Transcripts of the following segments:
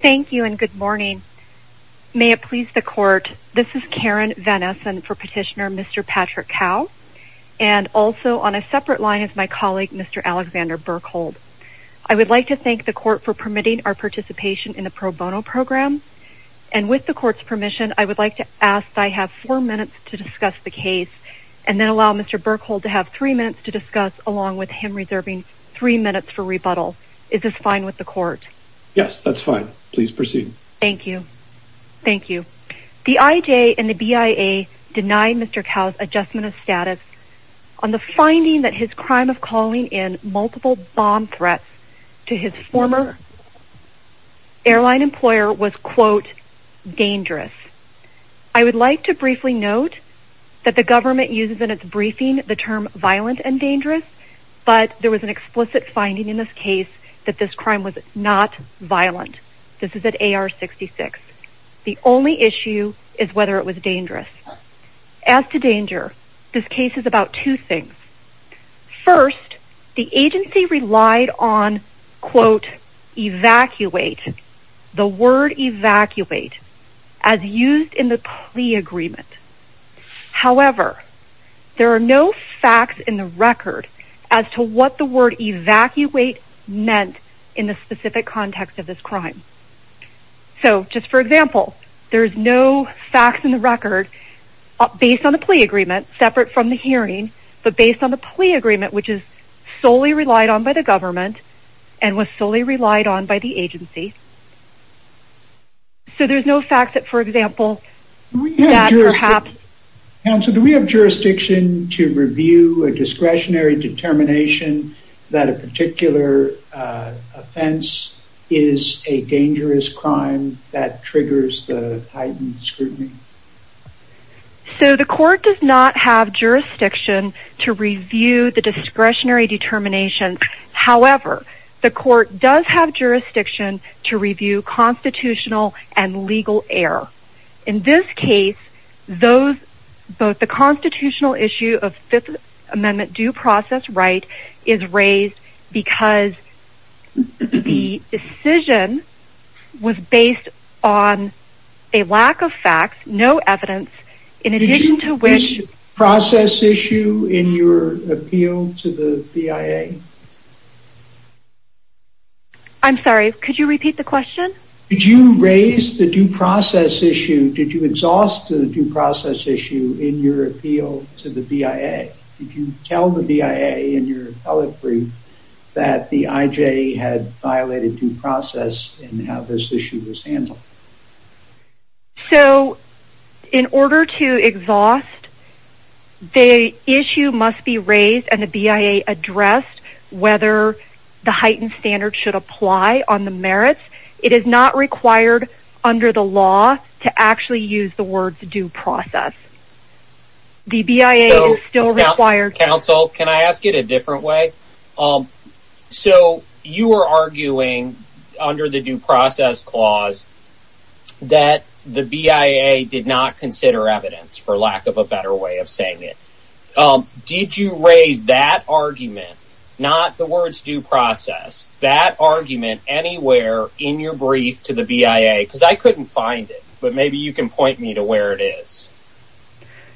Thank you and good morning. May it please the court, this is Karen Van Essen for petitioner Mr. Patrick Cau and also on a separate line is my colleague Mr. Alexander Burkhold. I would like to thank the court for permitting our participation in the pro bono program and with the court's permission I would like to ask I have four minutes to discuss the case and then allow Mr. Burkhold to have three minutes to discuss along with him reserving three minutes for rebuttal. Is this fine with the court? Yes that's fine please proceed. Thank you thank you. The IJ and the BIA denied Mr. Cau's adjustment of status on the finding that his crime of calling in multiple bomb threats to his former airline employer was quote dangerous. I would like to briefly note that the government uses in its briefing the term violent and explicit finding in this case that this crime was not violent. This is at AR 66. The only issue is whether it was dangerous. As to danger this case is about two things. First the agency relied on quote evacuate the word evacuate as used in the plea agreement. However there are no facts in the word evacuate meant in the specific context of this crime. So just for example there's no facts in the record based on the plea agreement separate from the hearing but based on the plea agreement which is solely relied on by the government and was solely relied on by the agency. So there's no fact that for example perhaps. Counsel do we have jurisdiction to review a that a particular offense is a dangerous crime that triggers the heightened scrutiny? So the court does not have jurisdiction to review the discretionary determination. However the court does have jurisdiction to review constitutional and legal error. In this case those both the constitutional issue of Fifth Amendment due process right is raised because the decision was based on a lack of facts no evidence in addition to which process issue in your appeal to the BIA. I'm sorry could you repeat the question? Did you raise the due process issue did you exhaust the due process issue in your appeal to the BIA? Did you tell the BIA in your appellate brief that the IJ had violated due process and how this issue was handled? So in order to exhaust the issue must be raised and the BIA addressed whether the heightened standard should apply on the merits. It is not required under the law to actually use the words due process. The BIA is still required. Counsel can I ask it a different way? So you were arguing under the due process clause that the BIA did not consider evidence for lack of a better way of that argument anywhere in your brief to the BIA because I couldn't find it but maybe you can point me to where it is.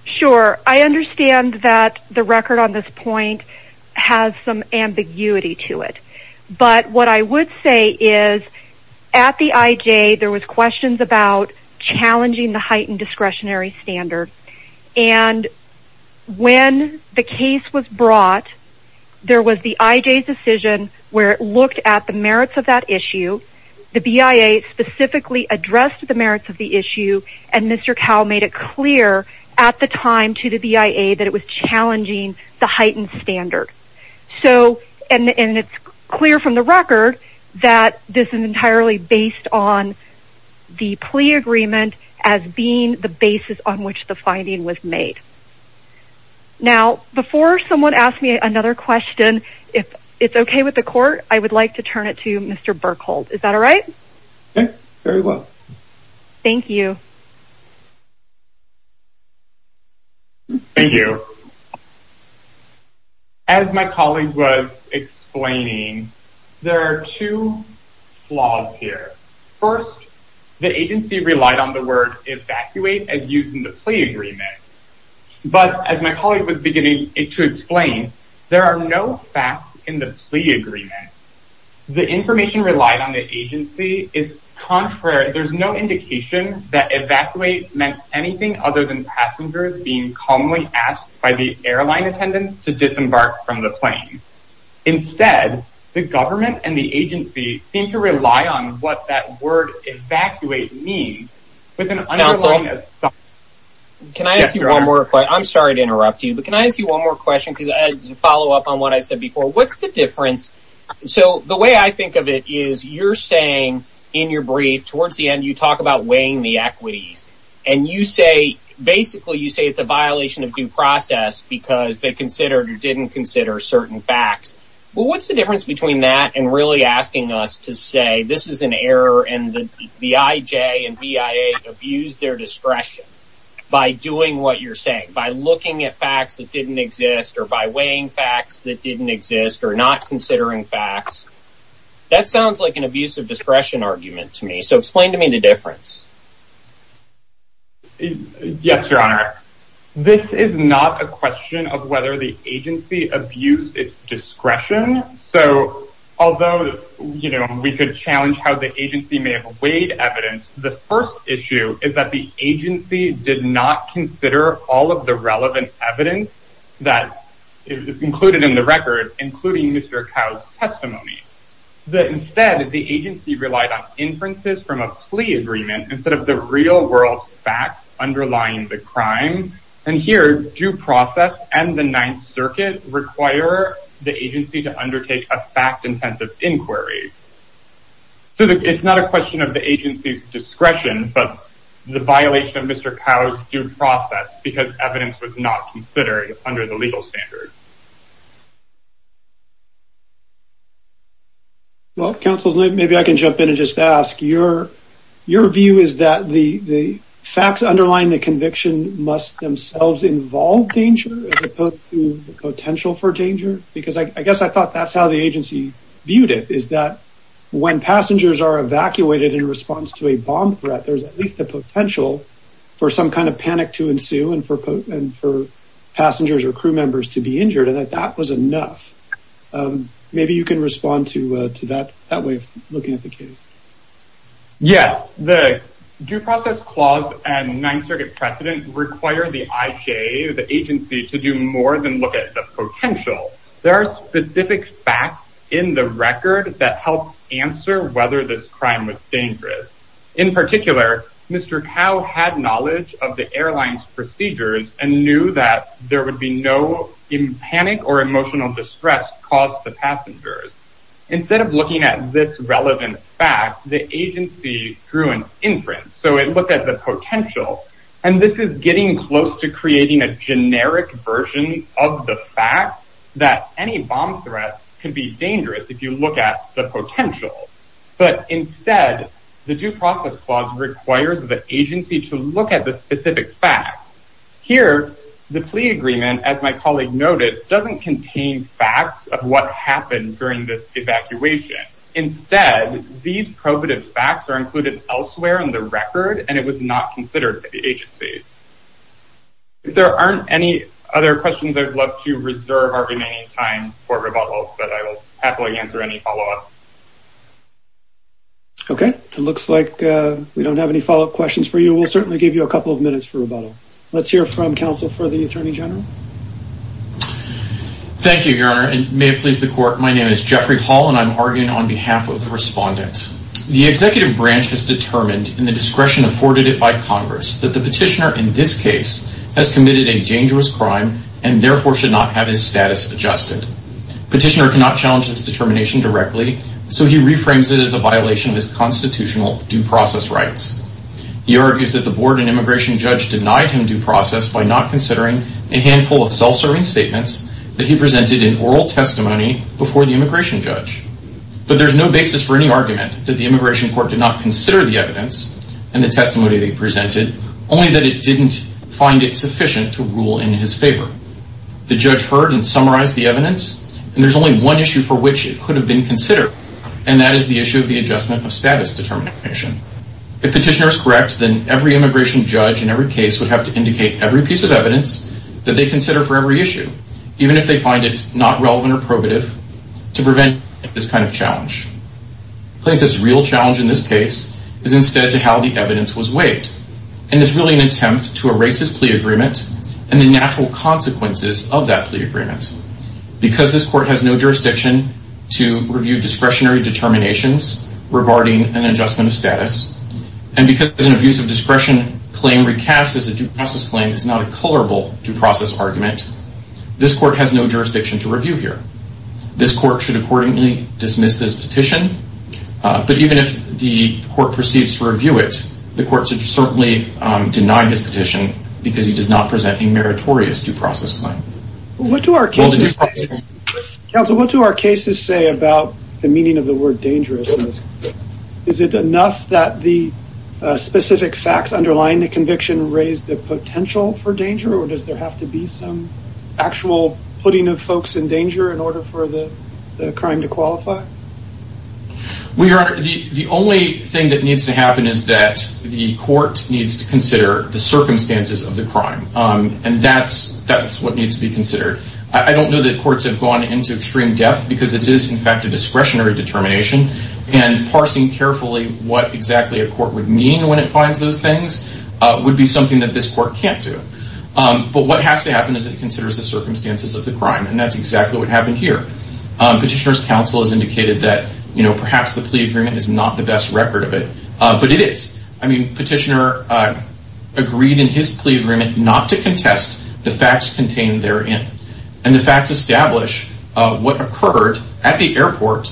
Sure I understand that the record on this point has some ambiguity to it but what I would say is at the IJ there was questions about challenging the heightened discretionary standard and when the case was brought there was the IJ's decision where it merits of that issue the BIA specifically addressed the merits of the issue and Mr. Cowell made it clear at the time to the BIA that it was challenging the heightened standard. So and it's clear from the record that this is entirely based on the plea agreement as being the basis on which the finding was made. Now before someone asks me another question if it's with the court I would like to turn it to Mr. Berkhold. Is that all right? Yes very well. Thank you. Thank you. As my colleague was explaining there are two flaws here. First the agency relied on the word evacuate as used in the plea agreement but as my colleague was beginning to explain there are no facts in the plea agreement. The information relied on the agency is contrary. There's no indication that evacuate meant anything other than passengers being commonly asked by the airline attendants to disembark from the plane. Instead the government and the agency seem to rely on what that word evacuate means with an underlying. Can I ask you one more question? I'm sorry to interrupt you but can I ask you one more question because I had to follow up on what I said before. What's the difference so the way I think of it is you're saying in your brief towards the end you talk about weighing the equities and you say basically you say it's a violation of due process because they considered or didn't consider certain facts. Well what's the difference between that and really asking us to say this is an error and the IJ and BIA abused their discretion by doing what you're saying by looking at facts that didn't exist or by weighing facts that didn't exist or not considering facts. That sounds like an abuse of discretion argument to me so explain to me the difference. Yes your honor this is not a question of whether the agency abused its discretion so although you know we could challenge how the agency may have weighed evidence the first issue is that the agency did not consider all of the relevant evidence that is included in the record including Mr. Cow's testimony. That instead the agency relied on inferences from a plea agreement instead of the real world facts underlying the crime and here due process and the ninth circuit require the agency to undertake a fact-intensive inquiry. So it's not a question of the agency's discretion but the violation of Mr. Cow's due process because evidence was not considered under the legal standard. Well counsel maybe I can jump in and just ask your view is that the facts underlying the conviction must themselves involve danger as opposed to the potential for danger because I guess I thought that's how the agency viewed it is that when passengers are evacuated in response to a bomb threat there's at least the potential for some kind of panic to ensue and for passengers or crew members to be injured and that that was enough. Maybe you can respond to that way of looking at the case. Yes the due process clause and ninth circuit precedent require the IJ the agency to do more than look at the potential. There are specific facts in the record that help answer whether this crime was dangerous. In particular Mr. Cow had knowledge of the airline's procedures and knew that there would be no in panic or emotional distress caused the passengers. Instead of looking at this relevant fact the agency threw an inference so it looked at the potential and this is getting close to creating a generic version of the fact that any bomb threat could be dangerous if you look at the potential but instead the due process clause requires the agency to look at the specific facts. Here the plea agreement as my colleague noted doesn't contain facts of what happened during this evacuation. Instead these probative facts are included elsewhere in the agency. If there aren't any other questions I'd love to reserve our remaining time for rebuttal but I will happily answer any follow-up. Okay it looks like we don't have any follow-up questions for you. We'll certainly give you a couple of minutes for rebuttal. Let's hear from counsel for the attorney general. Thank you your honor and may it please the court my name is Jeffrey Hall and I'm arguing on behalf of the respondent. The executive branch has determined in the petitioner in this case has committed a dangerous crime and therefore should not have his status adjusted. Petitioner cannot challenge this determination directly so he reframes it as a violation of his constitutional due process rights. He argues that the board and immigration judge denied him due process by not considering a handful of self-serving statements that he presented in oral testimony before the immigration judge but there's no basis for any argument that the only that it didn't find it sufficient to rule in his favor. The judge heard and summarized the evidence and there's only one issue for which it could have been considered and that is the issue of the adjustment of status determination. If petitioner is correct then every immigration judge in every case would have to indicate every piece of evidence that they consider for every issue even if they find it not relevant or probative to prevent this kind of challenge. Plaintiff's real challenge in this case is instead to how the evidence was weighed and it's really an attempt to erase his plea agreement and the natural consequences of that plea agreement. Because this court has no jurisdiction to review discretionary determinations regarding an adjustment of status and because an abuse of discretion claim recast as a due process claim is not a colorable due process argument, this court has no jurisdiction to review here. This court should accordingly dismiss this petition but even if the court proceeds to deny this petition because he does not present a meritorious due process claim. Counsel what do our cases say about the meaning of the word dangerous? Is it enough that the specific facts underlying the conviction raise the potential for danger or does there have to be some actual putting of folks in danger in order for the crime to qualify? We are the only thing that needs to happen is that the court needs to consider the circumstances of the crime and that's that's what needs to be considered. I don't know that courts have gone into extreme depth because it is in fact a discretionary determination and parsing carefully what exactly a court would mean when it finds those things would be something that this court can't do. But what has to happen is it considers the circumstances of the crime and that's exactly what happened here. Petitioner's counsel has indicated that perhaps the plea agreement is not the best record of it but it is. Petitioner agreed in his plea agreement not to contest the facts contained therein and the facts establish what occurred at the airport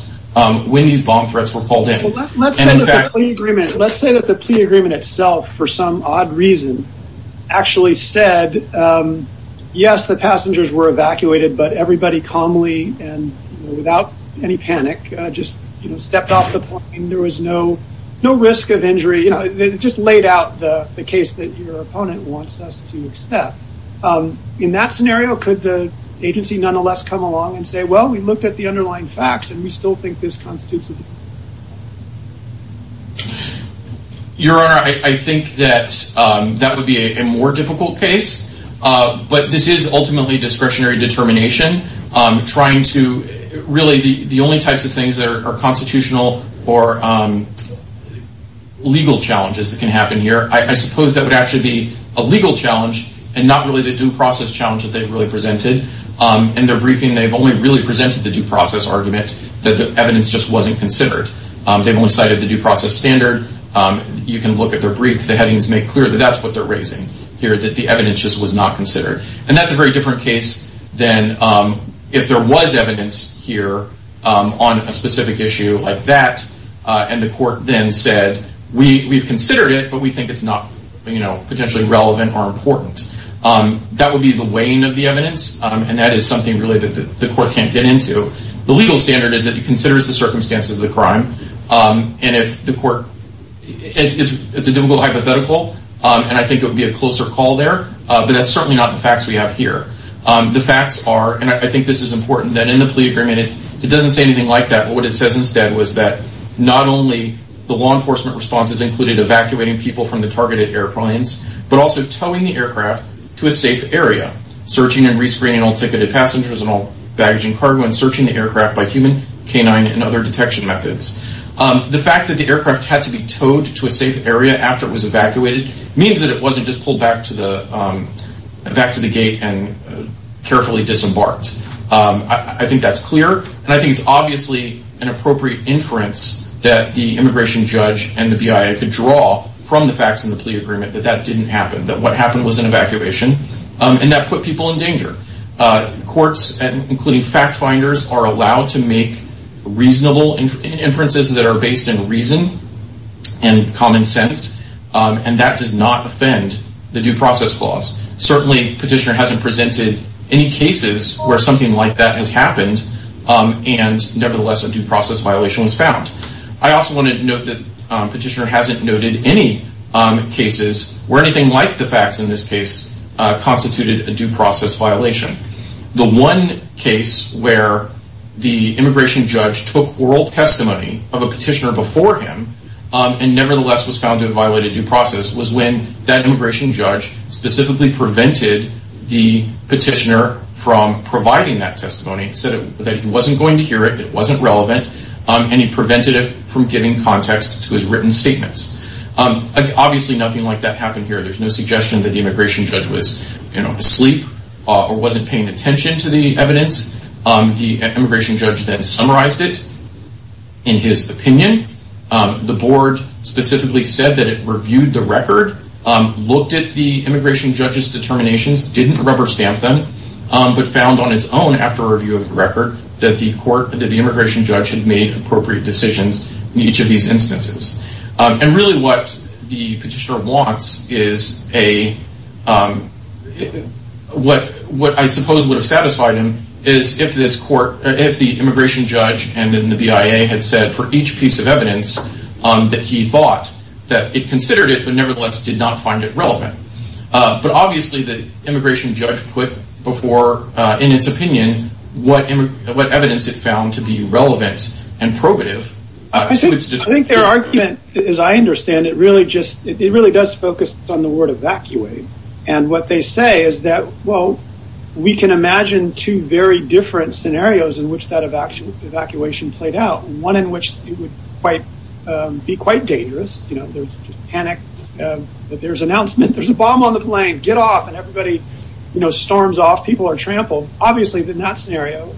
when these bomb threats were called in. Let's say that the plea agreement itself for some odd reason actually said yes the passengers were evacuated but everybody calmly and without any panic just you know stepped off the plane there was no no risk of injury you know they just laid out the the case that your opponent wants us to accept. In that scenario could the agency nonetheless come along and say well we looked at the underlying facts and we still think this constitutes a that would be a more difficult case but this is ultimately discretionary determination trying to really the only types of things that are constitutional or legal challenges that can happen here. I suppose that would actually be a legal challenge and not really the due process challenge that they've really presented. In their briefing they've only really presented the due process argument that the evidence just wasn't considered. They've only their brief the headings make clear that that's what they're raising here that the evidence just was not considered and that's a very different case than if there was evidence here on a specific issue like that and the court then said we we've considered it but we think it's not you know potentially relevant or important. That would be the weighing of the evidence and that is something really that the court can't get into. The legal standard is that it considers the circumstances of the crime and if the court it's a difficult hypothetical and I think it would be a closer call there but that's certainly not the facts we have here. The facts are and I think this is important that in the plea agreement it doesn't say anything like that but what it says instead was that not only the law enforcement responses included evacuating people from the targeted airplanes but also towing the aircraft to a safe area searching and rescreening all ticketed passengers and all baggaging cargo and searching the aircraft by human canine and other detection methods. The fact that the aircraft had to be towed to a safe area after it was evacuated means that it wasn't just pulled back to the back to the gate and carefully disembarked. I think that's clear and I think it's obviously an appropriate inference that the immigration judge and the BIA could draw from the facts in the plea agreement that that didn't happen that what happened was an evacuation and that put people in danger. Courts and including fact finders are allowed to make reasonable inferences that are based in reason and common sense and that does not offend the due process clause. Certainly petitioner hasn't presented any cases where something like that has happened and nevertheless a due process violation was found. I also wanted to note that petitioner hasn't noted any cases where anything like the facts in this case constituted a due process violation. The one case where the immigration judge took oral testimony of a petitioner before him and nevertheless was found to have violated due process was when that immigration judge specifically prevented the petitioner from providing that testimony. He said that he wasn't going to hear it, it wasn't relevant and he prevented it from giving context to his written statements. Obviously nothing like that happened here. There's no suggestion that the immigration judge was asleep or wasn't paying attention to the evidence. The immigration judge then summarized it in his opinion. The board specifically said that it reviewed the record, looked at the immigration judge's determinations, didn't rubber stamp them, but found on its own after review of the record that the court that the immigration judge had made appropriate decisions in each of the cases, what I suppose would have satisfied him is if the immigration judge and the BIA had said for each piece of evidence that he thought that it considered it but nevertheless did not find it relevant. But obviously the immigration judge put before in its opinion what evidence it found to be relevant and probative. I think their argument as I understand it really does focus on the word evacuate. What they say is that we can imagine two very different scenarios in which that evacuation played out. One in which it would be quite dangerous. There's panic, there's announcement, there's a bomb on the plane, get off and everybody storms off, people are trampled. Obviously in that scenario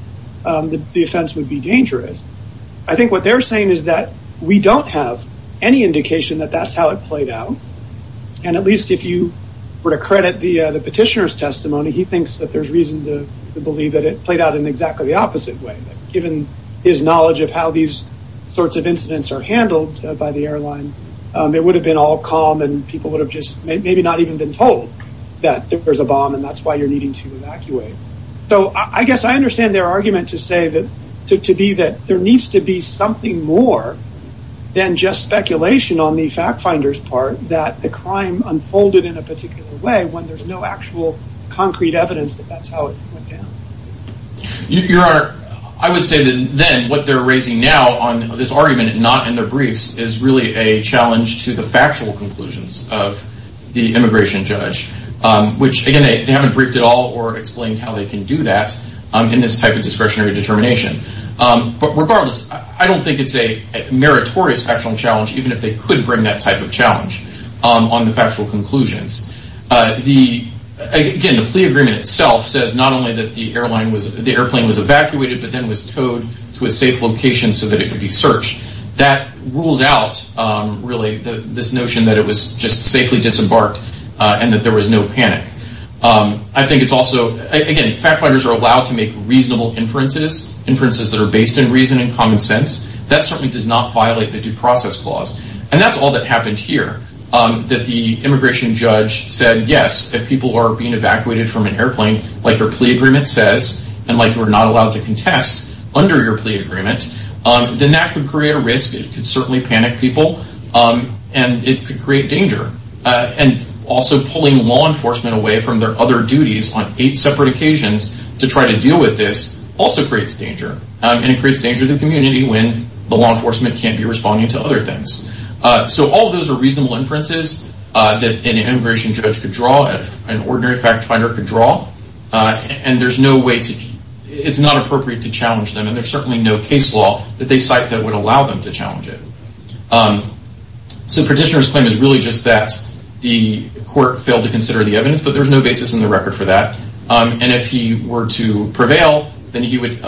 the offense would be dangerous. I think what they're saying is that we don't have any indication that that's how it played out. At least if you were to credit the petitioner's testimony, he thinks that there's reason to believe that it played out in exactly the opposite way. Given his knowledge of how these sorts of incidents are handled by the airline, it would have been all calm and people would have maybe not even been told that there's a bomb and that's why you're needing to evacuate. I guess I understand their argument to say that there needs to be something more than just speculation on the fact finder's part that the crime unfolded in a particular way when there's no actual concrete evidence that that's how it went down. Your honor, I would say that then what they're raising now on this argument not in their briefs is really a challenge to the factual conclusions of the immigration judge. Which again they haven't briefed at all or explained how they can do that in this type of discretionary determination. But regardless, I don't think it's a meritorious factual challenge even if they could bring that type of challenge on the factual conclusions. Again, the plea agreement itself says not only that the airplane was evacuated but then was towed to a safe location so that it could be searched. That rules out really this notion that it was just safely disembarked and that there was no panic. I think it's also, again, fact finders are allowed to make reasonable inferences. Inferences that are based in reason and common sense. That certainly does not violate the due process clause. And that's all that happened here. That the immigration judge said yes, if people are being evacuated from an airplane like your plea agreement says and like you're not allowed to contest under your plea agreement, then that could create a risk. It could certainly from their other duties on eight separate occasions to try to deal with this also creates danger. And it creates danger to the community when the law enforcement can't be responding to other things. So all those are reasonable inferences that an immigration judge could draw, an ordinary fact finder could draw. And there's no way to, it's not appropriate to challenge them. And there's certainly no case law that they cite that would allow them to challenge it. So petitioner's claim is really just that the court failed to consider the evidence, but there's no basis in the record for that. And if he were to prevail, then he would,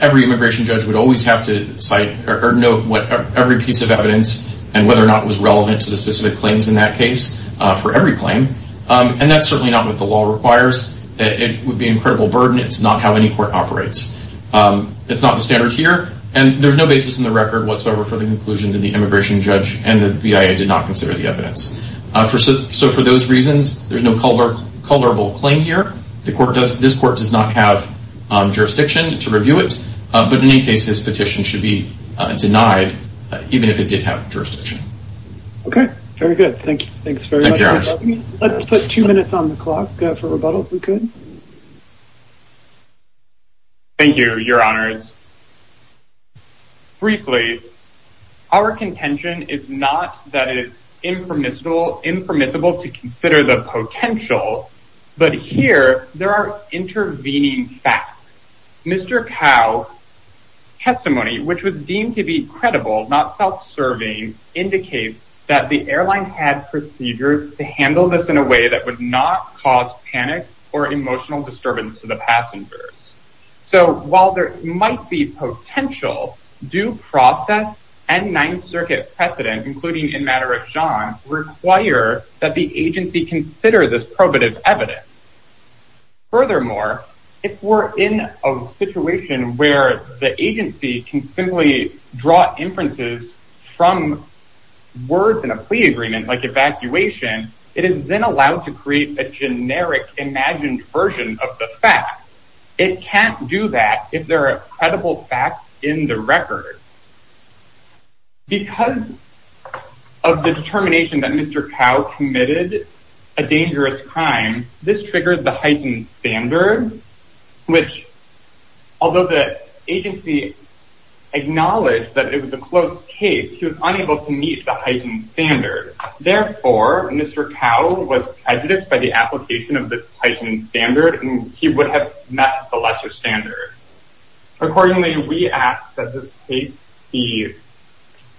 every immigration judge would always have to cite or note what every piece of evidence and whether or not it was relevant to the specific claims in that case for every claim. And that's certainly not what the law requires. It would be an incredible burden. It's not how any court operates. It's not the standard here. And there's no basis in the record whatsoever for the conclusion that the immigration judge and the BIA did not consider the evidence. So for those reasons, there's no culpable claim here. This court does not have jurisdiction to review it, but in any case, this petition should be denied even if it did have jurisdiction. Okay. Very good. Thank you. Thanks very much. Let's put two minutes on the clock for rebuttal if we could. Thank you, your honors. Briefly, our contention is not that it's impermissible to consider the potential, but here there are intervening facts. Mr. Kao's testimony, which was deemed to be credible, not self-serving, indicates that the airline had procedures to handle this in a way that would not cause panic or emotional disturbance to the passengers. So while there might be potential, due process and Ninth Circuit precedent, including in matter of John, require that the agency consider this probative evidence. Furthermore, if we're in a situation where the agency can simply draw inferences from words in a plea agreement, like evacuation, it is then allowed to create a generic imagined version of the fact. It can't do that if there are credible facts in the record. Because of the determination that Mr. Kao committed a dangerous crime, this triggered the heightened standard, which although the agency acknowledged that it was a closed case, he was unable to meet the heightened standard. Therefore, Mr. Kao was prejudiced by the application of the heightened standard, and he would have met the lesser standard. Accordingly, we ask that the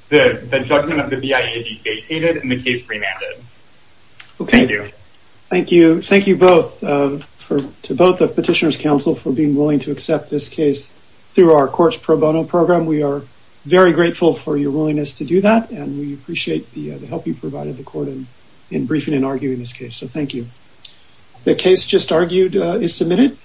judgment of the BIA be vacated and the case remanded. Thank you. Thank you both, to both the Petitioner's Council for being willing to accept this case through our Courts Pro Bono program. We are very grateful for your willingness to do that, and we appreciate the help you provided the court in briefing and arguing this case. So thank you. The case just argued is submitted.